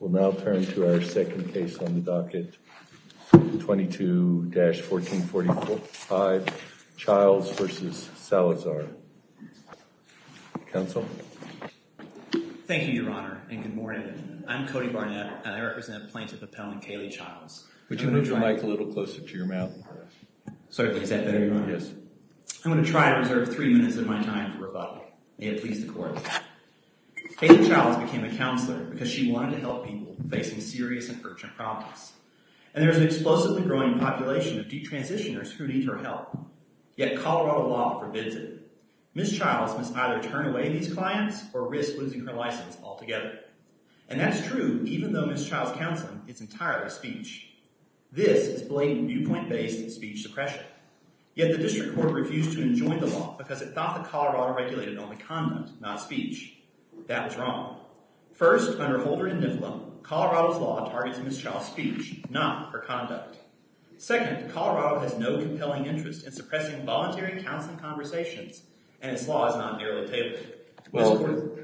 We'll now turn to our second case on the docket, 22-1445, Chiles v. Salazar. Counsel? Thank you, Your Honor, and good morning. I'm Cody Barnett, and I represent Plaintiff Appellant Kaylee Chiles. Would you move your mic a little closer to your mouth? Certainly, is that better? Yes. I'm going to try and reserve three minutes of my time for rebuttal. May it please the Court. Kaylee Chiles became a counselor because she wanted to help people facing serious and urgent problems. And there's an explosively growing population of detransitioners who need her help. Yet Colorado law forbids it. Ms. Chiles must either turn away these clients or risk losing her license altogether. And that's true even though Ms. Chiles' counseling is entirely speech. This is blatant viewpoint-based speech suppression. Yet the District Court refused to enjoin the law because it thought that Colorado regulated only conduct, not speech. That was wrong. First, under Holder and Niflo, Colorado's law targets Ms. Chiles' speech, not her conduct. Second, Colorado has no compelling interest in suppressing voluntary counseling conversations, and its law is not narrow-tabled. Well,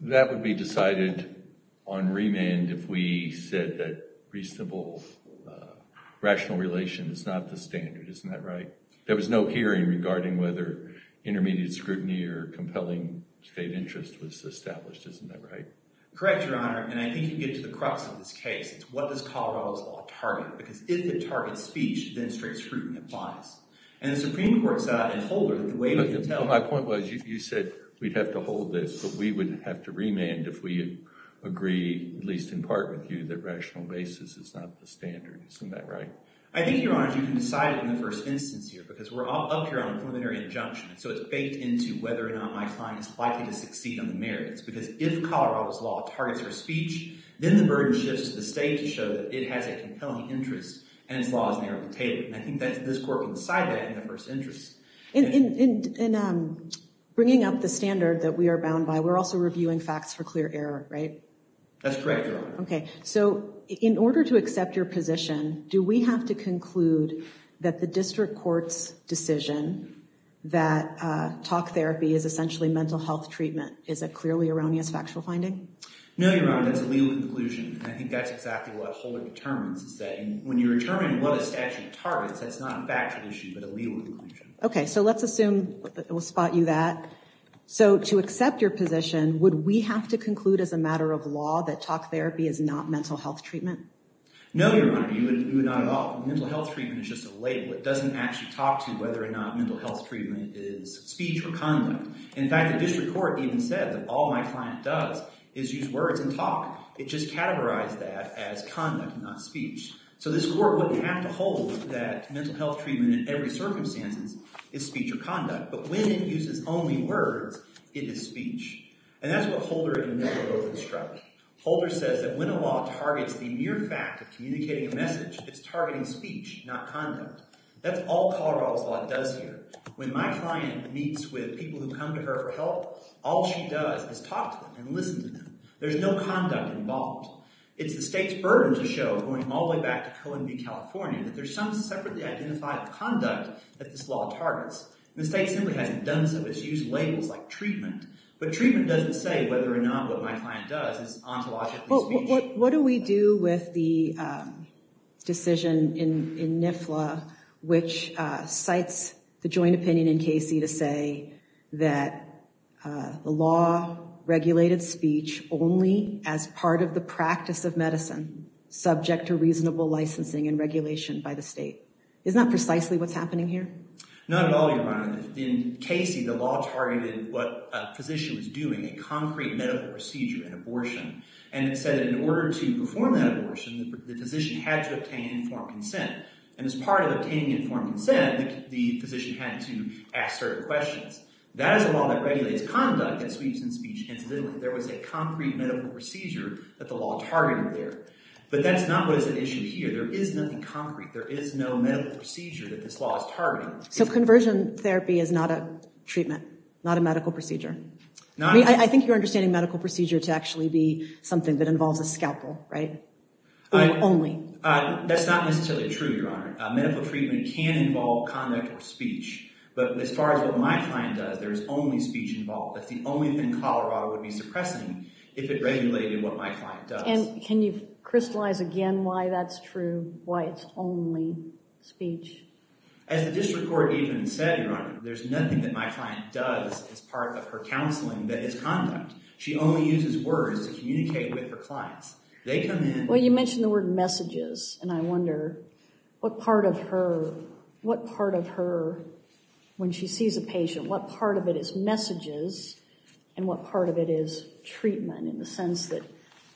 that would be decided on remand if we said that reasonable, rational relation is not the standard. Isn't that right? There was no hearing regarding whether intermediate scrutiny or compelling state interest was established. Isn't that right? Correct, Your Honor. And I think you get to the crux of this case. It's what does Colorado's law target? Because if it targets speech, then straight scrutiny applies. And the Supreme Court said in Holder that the way we can tell— My point was you said we'd have to hold this, but we would have to remand if we agree, at least in part with you, that rational basis is not the standard. Isn't that right? I think, Your Honor, you can decide it in the first instance here because we're up here on a preliminary injunction. So it's baked into whether or not my client is likely to succeed on the merits. Because if Colorado's law targets her speech, then the burden shifts to the state to show that it has a compelling interest and its law is narrow-tabled. And I think this court can decide that in the first instance. In bringing up the standard that we are bound by, we're also reviewing facts for clear error, right? That's correct, Your Honor. Okay. So in order to accept your position, do we have to conclude that the district court's decision that talk therapy is essentially mental health treatment is a clearly erroneous factual finding? No, Your Honor. That's a legal conclusion. And I think that's exactly what Holder determines is that when you determine what a statute targets, that's not a factual issue but a legal conclusion. Okay. So let's assume we'll spot you that. So to accept your position, would we have to conclude as a matter of law that talk therapy is not mental health treatment? No, Your Honor. You would not at all. Mental health treatment is just a label. It doesn't actually talk to whether or not mental health treatment is speech or conduct. In fact, the district court even said that all my client does is use words and talk. It just categorized that as conduct, not speech. So this court wouldn't have to hold that mental health treatment in every circumstance is speech or conduct. But when it uses only words, it is speech. And that's what Holder in the middle of this trial. Holder says that when a law targets the mere fact of communicating a message, it's targeting speech, not conduct. That's all Colorado's law does here. When my client meets with people who come to her for help, all she does is talk to them and listen to them. There's no conduct involved. It's the state's burden to show, going all the way back to Cohen v. California, that there's some separately identified conduct that this law targets. And the state simply hasn't done so. It's used labels like treatment. But treatment doesn't say whether or not what my client does is ontologically speech. What do we do with the decision in NIFLA, which cites the joint opinion in Casey to say that the law regulated speech only as part of the practice of medicine, subject to reasonable licensing and regulation by the state? Isn't that precisely what's happening here? Not at all, Your Honor. In Casey, the law targeted what a physician was doing, a concrete medical procedure in abortion. And it said that in order to perform that abortion, the physician had to obtain informed consent. And as part of obtaining informed consent, the physician had to ask certain questions. That is a law that regulates conduct that sweeps in speech. There was a concrete medical procedure that the law targeted there. But that's not what is at issue here. There is nothing concrete. There is no medical procedure that this law is targeting. So conversion therapy is not a treatment, not a medical procedure? I think you're understanding medical procedure to actually be something that involves a scalpel, right? Or only? That's not necessarily true, Your Honor. Medical treatment can involve conduct or speech. But as far as what my client does, there is only speech involved. That's the only thing Colorado would be suppressing if it regulated what my client does. And can you crystallize again why that's true, why it's only speech? As the district court even said, Your Honor, there's nothing that my client does as part of her counseling that is conduct. She only uses words to communicate with her clients. They come in— Well, you mentioned the word messages. And I wonder what part of her—what part of her, when she sees a patient, what part of it is messages and what part of it is treatment in the sense that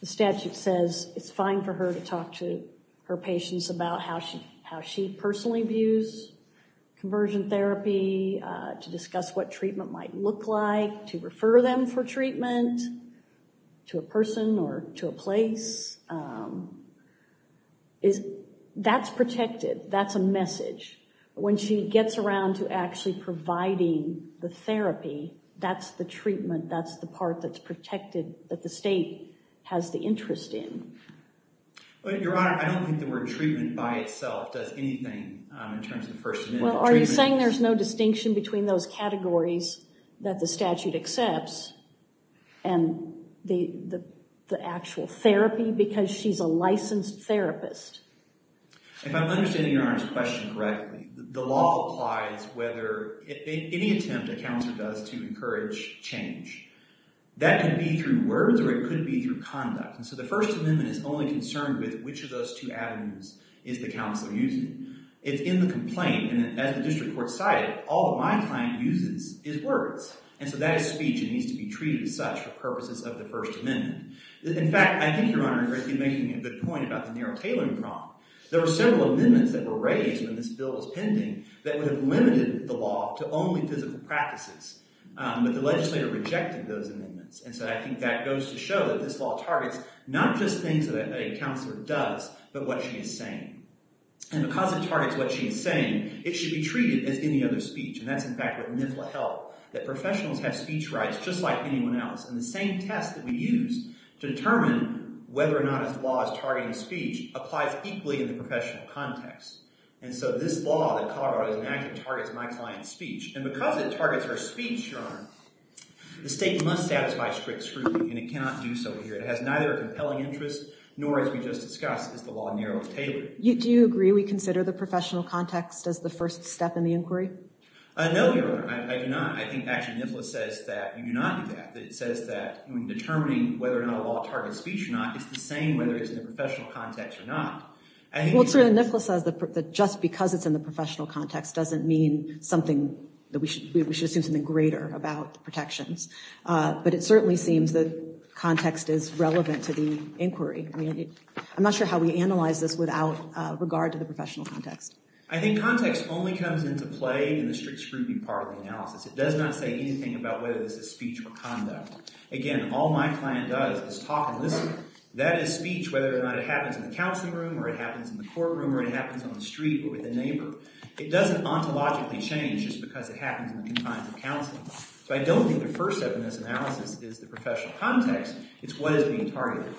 the statute says it's fine for her to talk to her patients about how she— conversion therapy, to discuss what treatment might look like, to refer them for treatment to a person or to a place. That's protected. That's a message. When she gets around to actually providing the therapy, that's the treatment. That's the part that's protected that the state has the interest in. Your Honor, I don't think the word treatment by itself does anything in terms of the First Amendment. Well, are you saying there's no distinction between those categories that the statute accepts and the actual therapy because she's a licensed therapist? If I'm understanding Your Honor's question correctly, the law applies whether—any attempt a counselor does to encourage change, that can be through words or it could be through conduct. And so the First Amendment is only concerned with which of those two avenues is the counselor using. It's in the complaint. And as the district court cited, all that my client uses is words. And so that is speech and needs to be treated as such for purposes of the First Amendment. In fact, I think, Your Honor, you're making a good point about the narrow tailoring problem. There were several amendments that were raised when this bill was pending that would have limited the law to only physical practices. But the legislator rejected those amendments. And so I think that goes to show that this law targets not just things that a counselor does but what she is saying. And because it targets what she is saying, it should be treated as any other speech. And that's in fact what NIFLA held, that professionals have speech rights just like anyone else. And the same test that we use to determine whether or not this law is targeting speech applies equally in the professional context. And so this law that Colorado is enacting targets my client's speech. And because it targets her speech, Your Honor, the state must satisfy strict scrutiny. And it cannot do so here. It has neither a compelling interest nor, as we just discussed, is the law narrowly tailored. Do you agree we consider the professional context as the first step in the inquiry? No, Your Honor. I do not. I think actually NIFLA says that you do not do that. It says that in determining whether or not a law targets speech or not, it's the same whether it's in the professional context or not. Well, certainly NIFLA says that just because it's in the professional context doesn't mean we should assume something greater about protections. But it certainly seems that context is relevant to the inquiry. I'm not sure how we analyze this without regard to the professional context. I think context only comes into play in the strict scrutiny part of the analysis. It does not say anything about whether this is speech or conduct. Again, all my client does is talk and listen. That is speech whether or not it happens in the counseling room or it happens in the courtroom or it happens on the street or with a neighbor. It doesn't ontologically change just because it happens in the confines of counseling. So I don't think the first step in this analysis is the professional context. It's what is being targeted.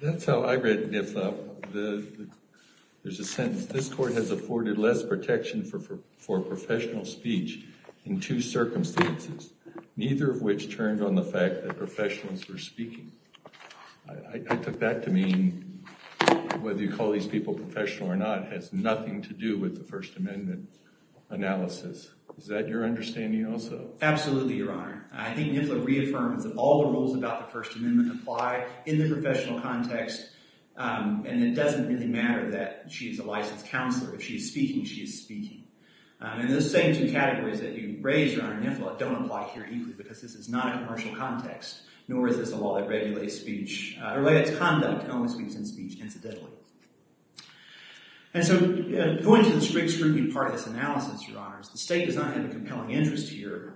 That's how I read NIFLA. There's a sentence. I took that to mean whether you call these people professional or not has nothing to do with the First Amendment analysis. Is that your understanding also? Absolutely, Your Honor. I think NIFLA reaffirms that all the rules about the First Amendment apply in the professional context. And it doesn't really matter that she is a licensed counselor. If she is speaking, she is speaking. And those same two categories that you raised, Your Honor, NIFLA, don't apply here equally because this is not a commercial context. Nor is this a law that regulates speech or lets conduct only speak in speech, incidentally. And so going to the strict scrutiny part of this analysis, Your Honors, the state does not have a compelling interest here.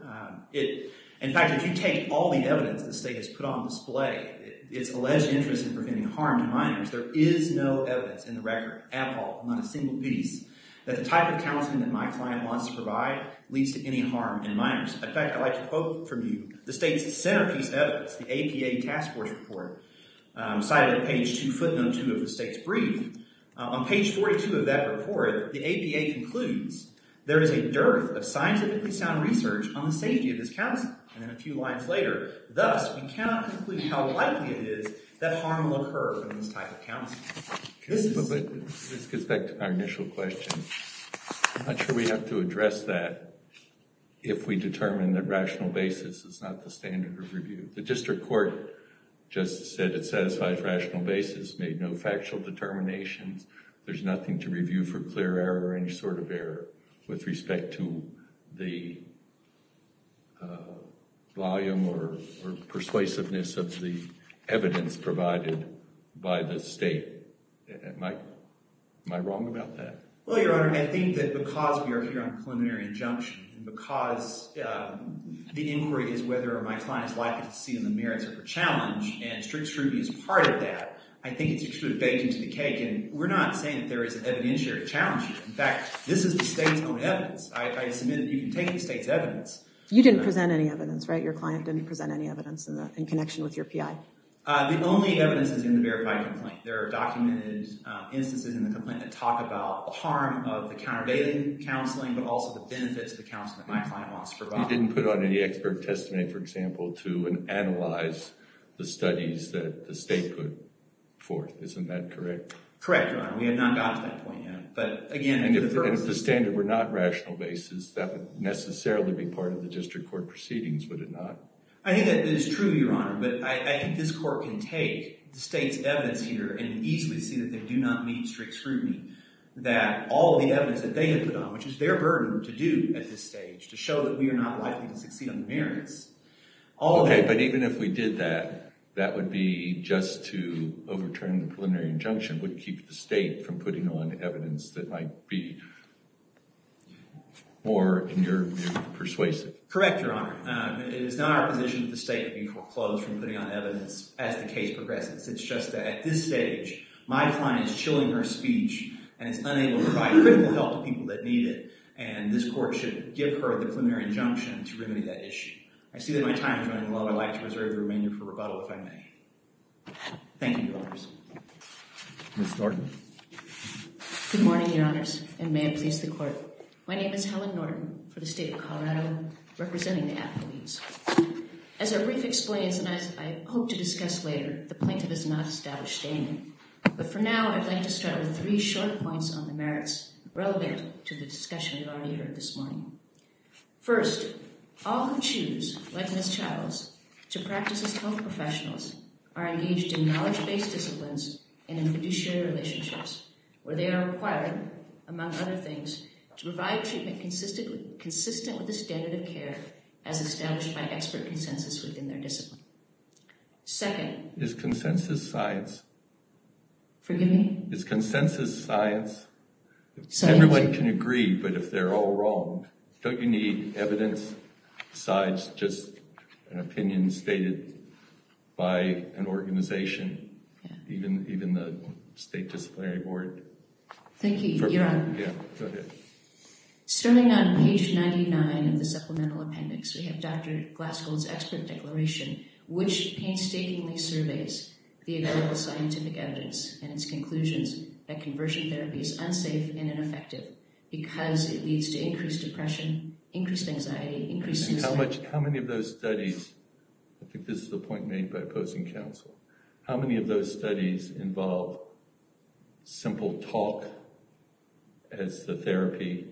In fact, if you take all the evidence the state has put on display, it's alleged interest in preventing harm to minors. There is no evidence in the record at all, not a single piece, that the type of counseling that my client wants to provide leads to any harm in minors. In fact, I'd like to quote from you the state's centerpiece evidence, the APA task force report cited at page 2, footnote 2 of the state's brief. On page 42 of that report, the APA concludes, there is a dearth of scientifically sound research on the safety of this counselor. And then a few lines later, thus, we cannot conclude how likely it is that harm will occur in this type of counseling. But this gets back to our initial question. I'm not sure we have to address that if we determine that rational basis is not the standard of review. The district court just said it satisfies rational basis, made no factual determinations. There's nothing to review for clear error or any sort of error with respect to the volume or persuasiveness of the evidence provided by the state. Am I wrong about that? Well, Your Honor, I think that because we are here on preliminary injunction, because the inquiry is whether my client is likely to see the merits of her challenge, and strict scrutiny is part of that, I think it's sort of baked into the cake. And we're not saying that there is an evidentiary challenge here. In fact, this is the state's own evidence. I submit that you can take the state's evidence. You didn't present any evidence, right? Your client didn't present any evidence in connection with your PI. The only evidence is in the verified complaint. There are documented instances in the complaint that talk about the harm of the countervailing counseling, but also the benefits of the counseling that my client wants to provide. You didn't put on any expert testimony, for example, to analyze the studies that the state put forth. Isn't that correct? Correct, Your Honor. We have not gotten to that point yet. But again, for the purposes of— And if the standard were not rational basis, that would necessarily be part of the district court proceedings, would it not? I think that is true, Your Honor, but I think this court can take the state's evidence here and easily see that they do not need strict scrutiny, that all of the evidence that they had put on, which is their burden to do at this stage, to show that we are not likely to succeed on the merits, all of it— Okay, but even if we did that, that would be just to overturn the preliminary injunction, would keep the state from putting on evidence that might be more in your persuasive. Correct, Your Honor. It is not our position that the state would be foreclosed from putting on evidence as the case progresses. It's just that at this stage, my client is chilling her speech and is unable to provide critical help to people that need it, and this court should give her a preliminary injunction to remedy that issue. I see that my time is running low. I'd like to reserve the remainder for rebuttal, if I may. Thank you, Your Honors. Ms. Norton. Good morning, Your Honors, and may it please the Court. My name is Helen Norton for the State of Colorado, representing the athletes. As a brief explainance, and as I hope to discuss later, the plaintiff has not established a name. But for now, I'd like to start with three short points on the merits relevant to the discussion we've already heard this morning. First, all who choose, like Ms. Chattels, to practice as health professionals are engaged in knowledge-based disciplines and in fiduciary relationships, where they are required, among other things, to provide treatment consistent with the standard of care as established by expert consensus within their discipline. Second. Is consensus science? Forgive me? Is consensus science? Science. I can agree, but if they're all wrong, don't you need evidence besides just an opinion stated by an organization, even the State Disciplinary Board? Thank you, Your Honor. Yeah, go ahead. Stemming on page 99 of the supplemental appendix, we have Dr. Glassgold's expert declaration, which painstakingly surveys the available scientific evidence and its conclusions that conversion therapy is unsafe and ineffective because it leads to increased depression, increased anxiety, increased suicide. How many of those studies—I think this is a point made by opposing counsel—how many of those studies involve simple talk as the therapy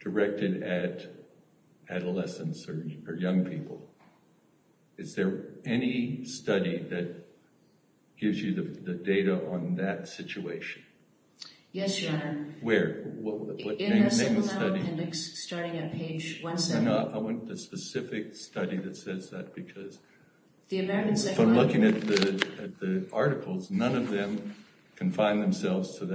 directed at adolescents or young people? Is there any study that gives you the data on that situation? Yes, Your Honor. Where? In the supplemental appendix, starting at page 17. Why not? I want the specific study that says that, because if I'm looking at the articles, none of them confine themselves to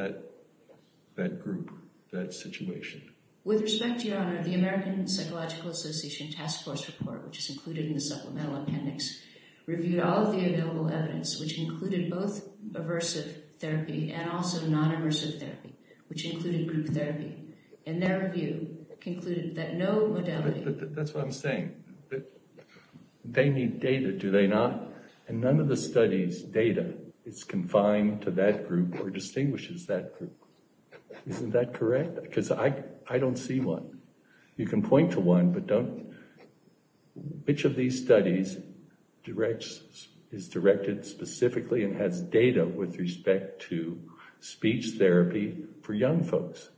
that group, that situation. With respect, Your Honor, the American Psychological Association Task Force report, which is included in the supplemental appendix, reviewed all of the available evidence, which included both aversive therapy and also non-aversive therapy, which included group therapy. And their review concluded that no modality— That's what I'm saying. They need data, do they not? And none of the studies' data is confined to that group or distinguishes that group. Isn't that correct? Because I don't see one. You can point to one, but don't—which of these studies is directed specifically and has data with respect to speech therapy for young folks?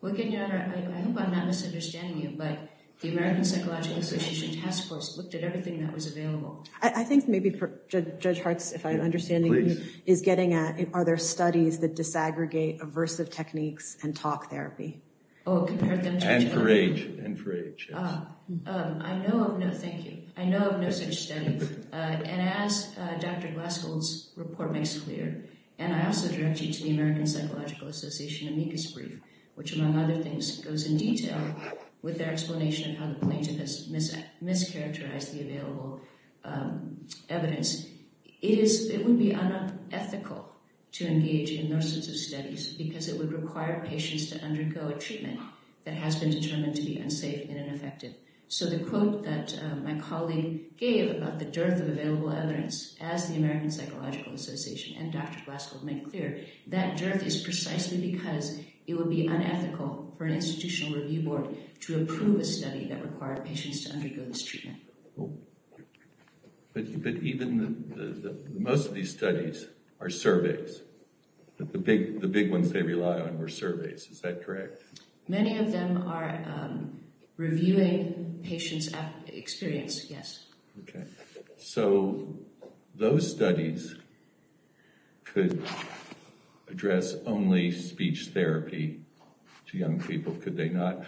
Well, again, Your Honor, I hope I'm not misunderstanding you, but the American Psychological Association Task Force looked at everything that was available. I think maybe, Judge Hartz, if I'm understanding you, is getting at, are there studies that disaggregate aversive techniques and talk therapy? Oh, compare them to each other? And for age. I know of no—thank you. I know of no such studies. And as Dr. Glaskill's report makes clear, and I also direct you to the American Psychological Association amicus brief, which, among other things, goes in detail with their explanation of how the plaintiff has mischaracterized the available evidence. It would be unethical to engage in those sorts of studies because it would require patients to undergo a treatment that has been determined to be unsafe and ineffective. So the quote that my colleague gave about the dearth of available evidence, as the American Psychological Association and Dr. Glaskill make clear, that dearth is precisely because it would be unethical for an institutional review board to approve a study that required patients to undergo this treatment. But even—most of these studies are surveys. The big ones they rely on were surveys. Is that correct? Many of them are reviewing patients' experience, yes. Okay. So those studies could address only speech therapy to young people, could they not?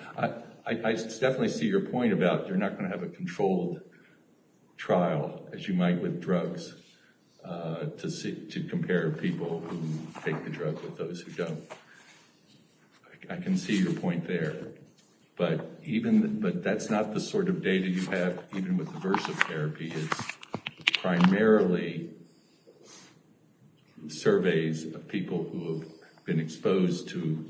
I definitely see your point about you're not going to have a controlled trial, as you might with drugs, to compare people who take the drug with those who don't. I can see your point there. But even—but that's not the sort of data you have even with aversive therapy. It's primarily surveys of people who have been exposed to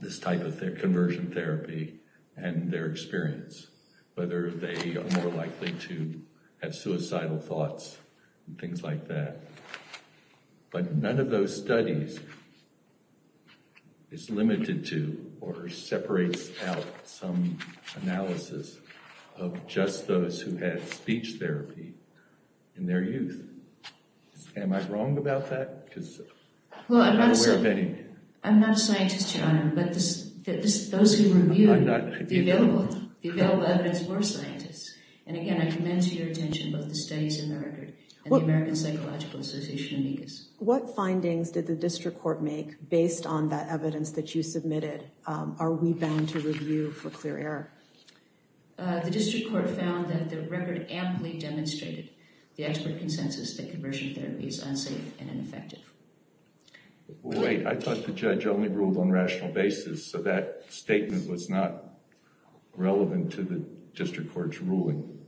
this type of conversion therapy and their experience, whether they are more likely to have suicidal thoughts and things like that. But none of those studies is limited to or separates out some analysis of just those who had speech therapy in their youth. Am I wrong about that? Because I'm not aware of any. Well, I'm not a scientist, Your Honor, but those who reviewed the available evidence were scientists. And again, I commend to your attention both the studies in the record and the American Psychological Association amicus. What findings did the district court make based on that evidence that you submitted? Are we bound to review for clear error? The district court found that the record amply demonstrated the expert consensus that conversion therapy is unsafe and ineffective. Wait, I thought the judge only ruled on rational basis, so that statement was not relevant to the district court's ruling.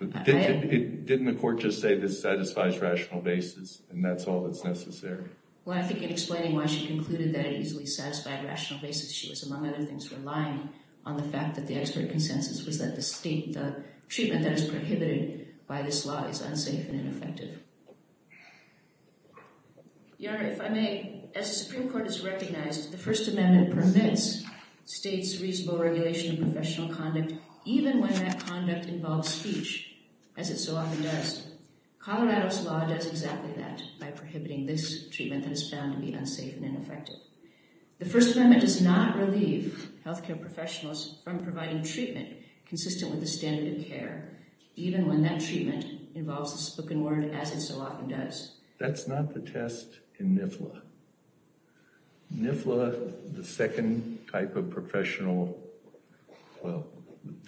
Didn't the court just say this satisfies rational basis and that's all that's necessary? Well, I think in explaining why she concluded that it easily satisfied rational basis, she was, among other things, relying on the fact that the expert consensus was that the treatment that is prohibited by this law is unsafe and ineffective. Your Honor, if I may, as the Supreme Court has recognized, the First Amendment permits states reasonable regulation of professional conduct even when that conduct involves speech, as it so often does. Colorado's law does exactly that by prohibiting this treatment that is found to be unsafe and ineffective. The First Amendment does not relieve healthcare professionals from providing treatment consistent with the standard of care, even when that treatment involves the spoken word, as it so often does. That's not the test in NIFLA. NIFLA, the second type of professional, well,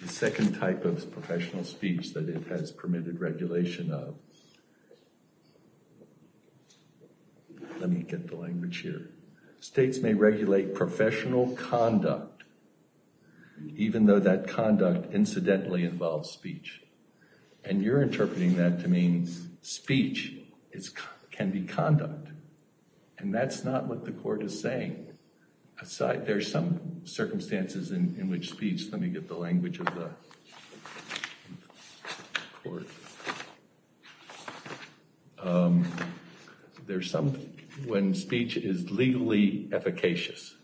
the second type of professional speech that it has permitted regulation of, let me get the language here. States may regulate professional conduct even though that conduct incidentally involves speech. And you're interpreting that to mean speech can be conduct. And that's not what the court is saying. Aside, there's some circumstances in which speech, let me get the language of the court. There's some, when speech is legally efficacious,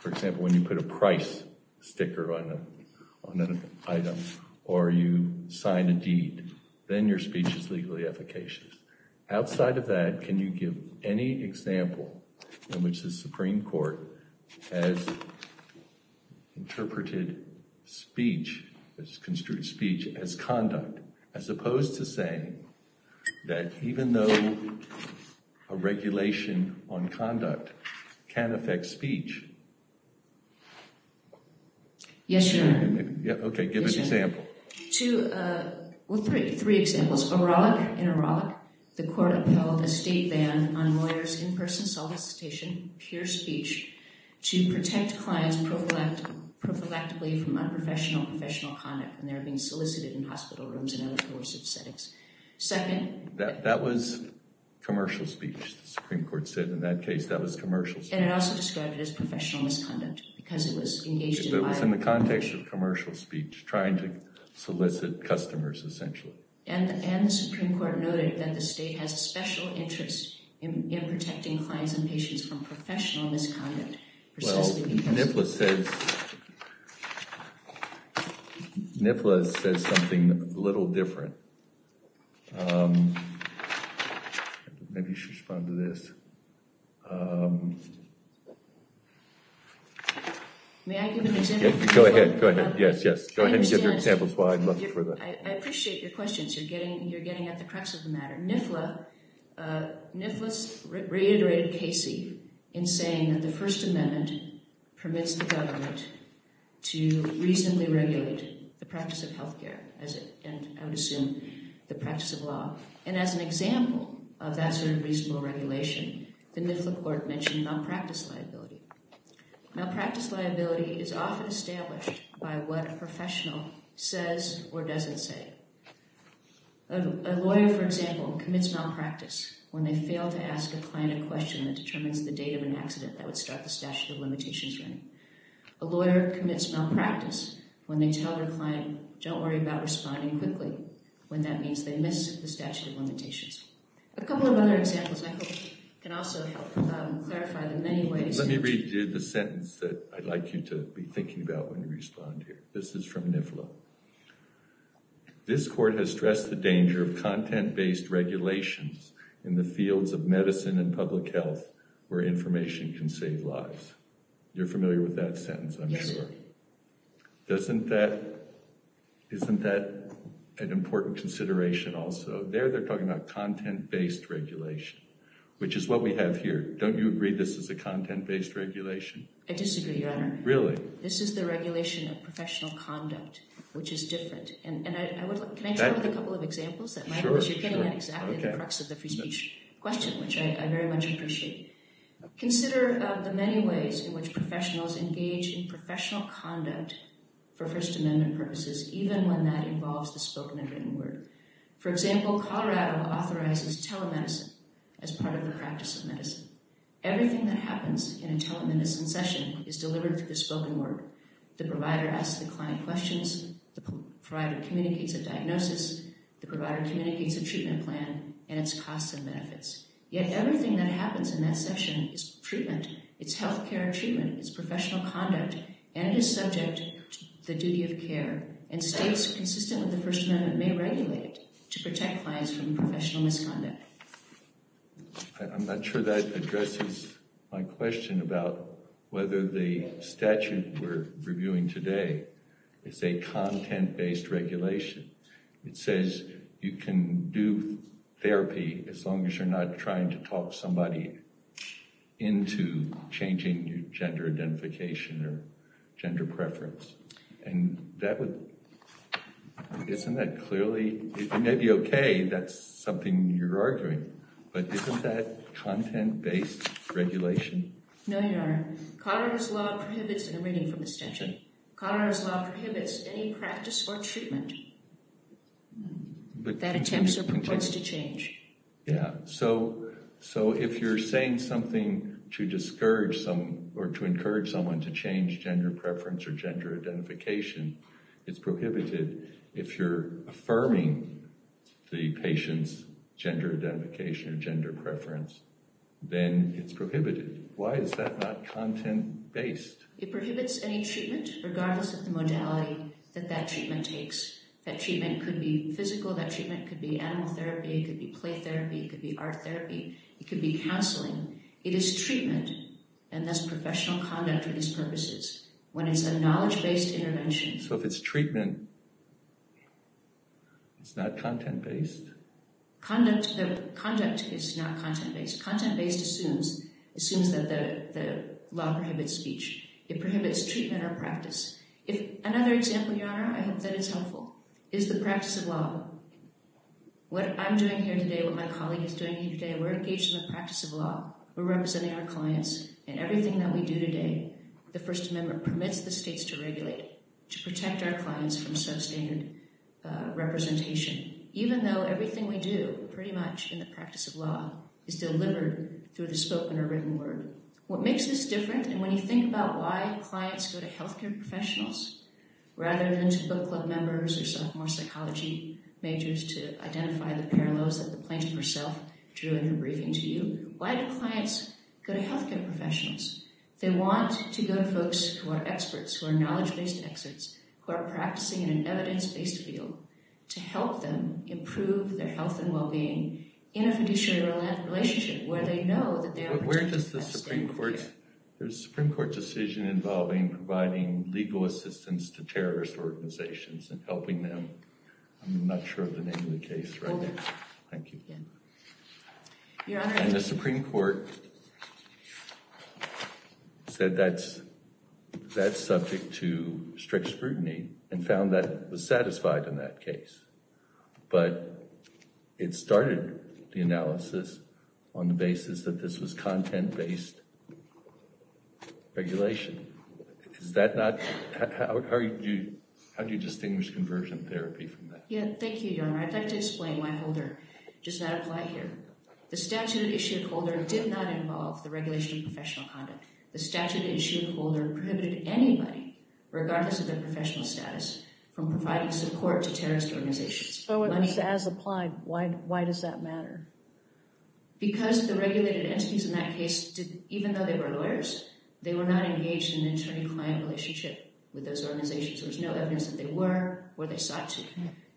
for example, when you put a price sticker on an item or you sign a deed, then your speech is legally efficacious. Outside of that, can you give any example in which the Supreme Court has interpreted speech, as construed speech, as conduct? As opposed to saying that even though a regulation on conduct can affect speech. Yes, Your Honor. Okay, give an example. Well, three examples. In Auralic, the court upheld a state ban on lawyers' in-person solicitation, pure speech, to protect clients prophylactically from unprofessional, professional conduct when they're being solicited in hospital rooms and other coercive settings. Second. That was commercial speech, the Supreme Court said. In that case, that was commercial speech. And it also described it as professional misconduct because it was engaged in violence. So it was in the context of commercial speech, trying to solicit customers, essentially. And the Supreme Court noted that the state has a special interest in protecting clients and patients from professional misconduct. Well, NIFLA says, NIFLA says something a little different. Maybe you should respond to this. May I give an example? Go ahead, go ahead. Yes, yes. Go ahead and give your examples while I'm looking for them. I appreciate your questions. You're getting at the crux of the matter. NIFLA reiterated Casey in saying that the First Amendment permits the government to reasonably regulate the practice of health care, and I would assume the practice of law. And as an example of that sort of reasonable regulation, the NIFLA court mentioned malpractice liability. Malpractice liability is often established by what a professional says or doesn't say. A lawyer, for example, commits malpractice when they fail to ask a client a question that determines the date of an accident that would start the statute of limitations running. A lawyer commits malpractice when they tell their client, don't worry about responding quickly, when that means they miss the statute of limitations. A couple of other examples I hope can also help clarify the many ways that… Let me read you the sentence that I'd like you to be thinking about when you respond here. This is from NIFLA. This court has stressed the danger of content-based regulations in the fields of medicine and public health where information can save lives. You're familiar with that sentence, I'm sure. Yes, sir. Isn't that an important consideration also? There they're talking about content-based regulation, which is what we have here. Don't you agree this is a content-based regulation? I disagree, Your Honor. Really? This is the regulation of professional conduct, which is different. And can I share with you a couple of examples? Sure. You're getting at exactly the crux of the free speech question, which I very much appreciate. Consider the many ways in which professionals engage in professional conduct for First Amendment purposes, even when that involves the spoken and written word. For example, Colorado authorizes telemedicine as part of the practice of medicine. Everything that happens in a telemedicine session is delivered through the spoken word. The provider asks the client questions. The provider communicates a diagnosis. The provider communicates a treatment plan and its costs and benefits. Yet everything that happens in that session is treatment. It's health care treatment. It's professional conduct and is subject to the duty of care and states consistent with the First Amendment may regulate it to protect clients from professional misconduct. I'm not sure that addresses my question about whether the statute we're reviewing today is a content-based regulation. It says you can do therapy as long as you're not trying to talk somebody into changing your gender identification or gender preference. And that would—isn't that clearly—it may be okay. That's something you're arguing. But isn't that content-based regulation? No, Your Honor. Colorado's law prohibits—and I'm reading from the statute—Colorado's law prohibits any practice or treatment that attempts or proposes to change. Yeah. So if you're saying something to discourage someone or to encourage someone to change gender preference or gender identification, it's prohibited. If you're affirming the patient's gender identification or gender preference, then it's prohibited. Why is that not content-based? It prohibits any treatment, regardless of the modality that that treatment takes. That treatment could be physical. That treatment could be animal therapy. It could be play therapy. It could be art therapy. It could be counseling. It is treatment, and that's professional conduct for these purposes. When it's a knowledge-based intervention— So if it's treatment, it's not content-based? Conduct is not content-based. Content-based assumes that the law prohibits speech. It prohibits treatment or practice. Another example, Your Honor, I hope that is helpful, is the practice of law. What I'm doing here today, what my colleague is doing here today, we're engaged in the practice of law. We're representing our clients, and everything that we do today, the First Amendment permits the states to regulate, to protect our clients from substandard representation. Even though everything we do, pretty much, in the practice of law is delivered through the spoken or written word. What makes this different, and when you think about why clients go to healthcare professionals, rather than to book club members or sophomore psychology majors to identify the parallels that the plaintiff herself drew in her briefing to you, why do clients go to healthcare professionals? They want to go to folks who are experts, who are knowledge-based experts, who are practicing in an evidence-based field to help them improve their health and well-being in a fiduciary relationship where they know that they are doing the best they can. Where does the Supreme Court's decision involving providing legal assistance to terrorist organizations and helping them, I'm not sure of the name of the case right now. Thank you. And the Supreme Court said that's subject to strict scrutiny, and found that it was satisfied in that case. But it started the analysis on the basis that this was content-based regulation. How do you distinguish conversion therapy from that? Thank you, Your Honor. I'd like to explain why Holder does not apply here. The statute that issued Holder did not involve the regulation of professional conduct. The statute that issued Holder prohibited anybody, regardless of their professional status, from providing support to terrorist organizations. So it was as applied. Why does that matter? Because the regulated entities in that case, even though they were lawyers, they were not engaged in an attorney-client relationship with those organizations. There was no evidence that they were or they sought to.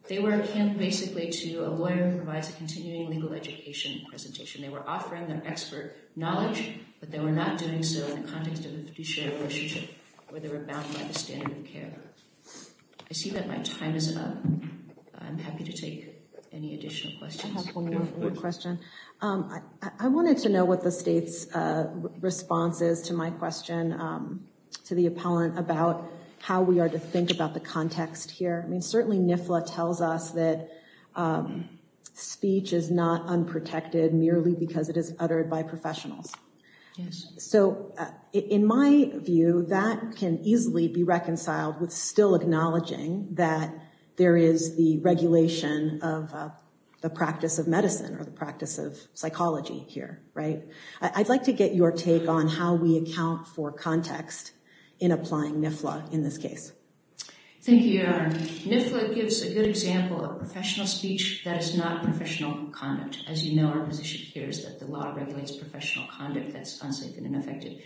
They were akin basically to a lawyer who provides a continuing legal education presentation. They were offering their expert knowledge, but they were not doing so in the context of a fiduciary relationship where they were bound by the standard of care. I see that my time is up. I'm happy to take any additional questions. I have one more question. I wanted to know what the state's response is to my question to the appellant about how we are to think about the context here. I mean, certainly NIFLA tells us that speech is not unprotected merely because it is uttered by professionals. So in my view, that can easily be reconciled with still acknowledging that there is the regulation of the practice of medicine or the practice of psychology here. I'd like to get your take on how we account for context in applying NIFLA in this case. Thank you, Your Honor. NIFLA gives a good example of professional speech that is not professional conduct. As you know, our position here is that the law regulates professional conduct that's unsafe and ineffective.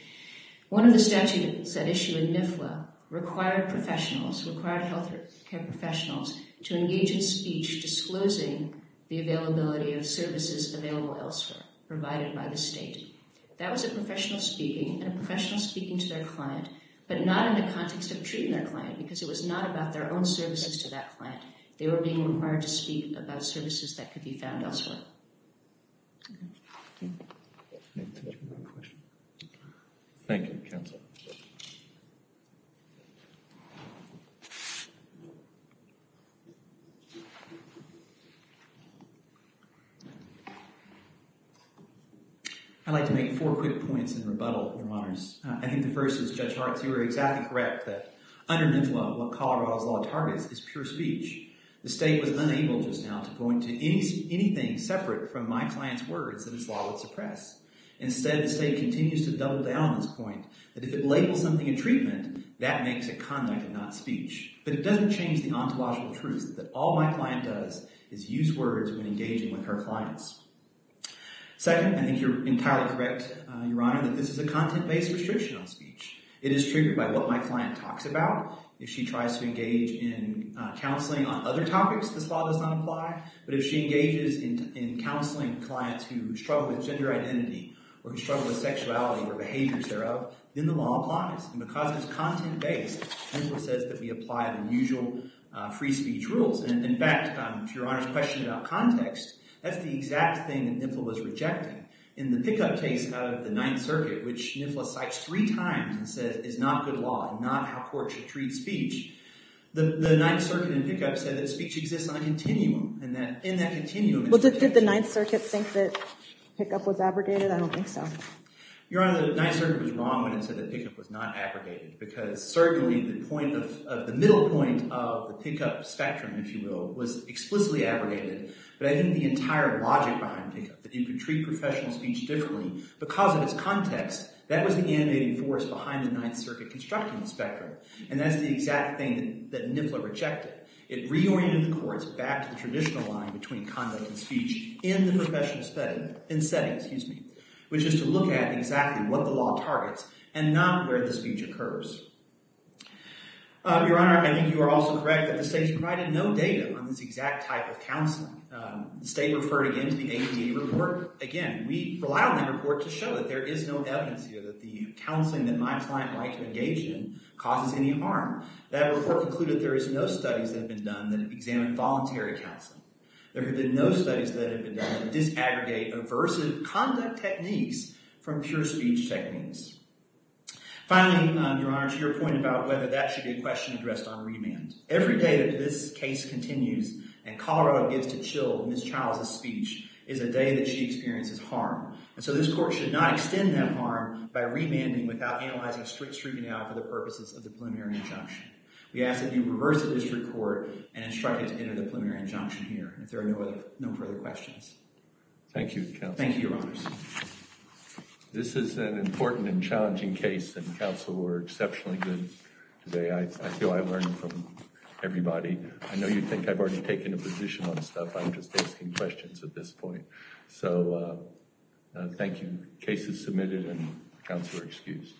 One of the statutes that issue in NIFLA required health care professionals to engage in speech disclosing the availability of services available elsewhere provided by the state. That was a professional speaking and a professional speaking to their client, but not in the context of treating their client because it was not about their own services to that client. They were being required to speak about services that could be found elsewhere. I'd like to make four quick points in rebuttal, Your Honors. I think the first is Judge Hart's. You were exactly correct that under NIFLA, what Colorado's law targets is pure speech. The state was unable just now to point to anything separate from my client's words that its law would suppress. Instead, the state continues to double down on this point that if it labels something in treatment, that makes it conduct and not speech. But it doesn't change the ontological truth that all my client does is use words when engaging with her clients. Second, I think you're entirely correct, Your Honor, that this is a content-based restriction on speech. It is triggered by what my client talks about. If she tries to engage in counseling on other topics, this law does not apply. But if she engages in counseling clients who struggle with gender identity or who struggle with sexuality or behaviors thereof, then the law applies. And because it's content-based, NIFLA says that we apply the usual free speech rules. And in fact, to Your Honor's question about context, that's the exact thing that NIFLA was rejecting. In the pickup case of the Ninth Circuit, which NIFLA cites three times and says it's not good law and not how courts should treat speech, the Ninth Circuit in pickup said that speech exists on a continuum. And that in that continuum – Well, did the Ninth Circuit think that pickup was abrogated? I don't think so. Your Honor, the Ninth Circuit was wrong when it said that pickup was not abrogated because certainly the point of – the middle point of the pickup spectrum, if you will, was explicitly abrogated. But I think the entire logic behind pickup, that you could treat professional speech differently because of its context, that was the animating force behind the Ninth Circuit constructing the spectrum. And that's the exact thing that NIFLA rejected. It reoriented the courts back to the traditional line between conduct and speech in the professional setting, which is to look at exactly what the law targets and not where the speech occurs. Your Honor, I think you are also correct that the state has provided no data on this exact type of counseling. The state referred again to the ADA report. Again, we rely on that report to show that there is no evidence here that the counseling that my client liked to engage in causes any harm. That report concluded there is no studies that have been done that examine voluntary counseling. There have been no studies that have been done that disaggregate aversive conduct techniques from pure speech techniques. Finally, Your Honor, to your point about whether that should be a question addressed on remand. Every day that this case continues and Colorado gives to chill Ms. Childs' speech is a day that she experiences harm. And so this court should not extend that harm by remanding without analyzing a strict screening out for the purposes of the preliminary injunction. We ask that you reverse the district court and instruct it to enter the preliminary injunction here. If there are no further questions. Thank you, counsel. Thank you, Your Honors. This is an important and challenging case, and counsel were exceptionally good today. I feel I learned from everybody. I know you think I've already taken a position on stuff. I'm just asking questions at this point. So, thank you. Case is submitted and counsel are excused.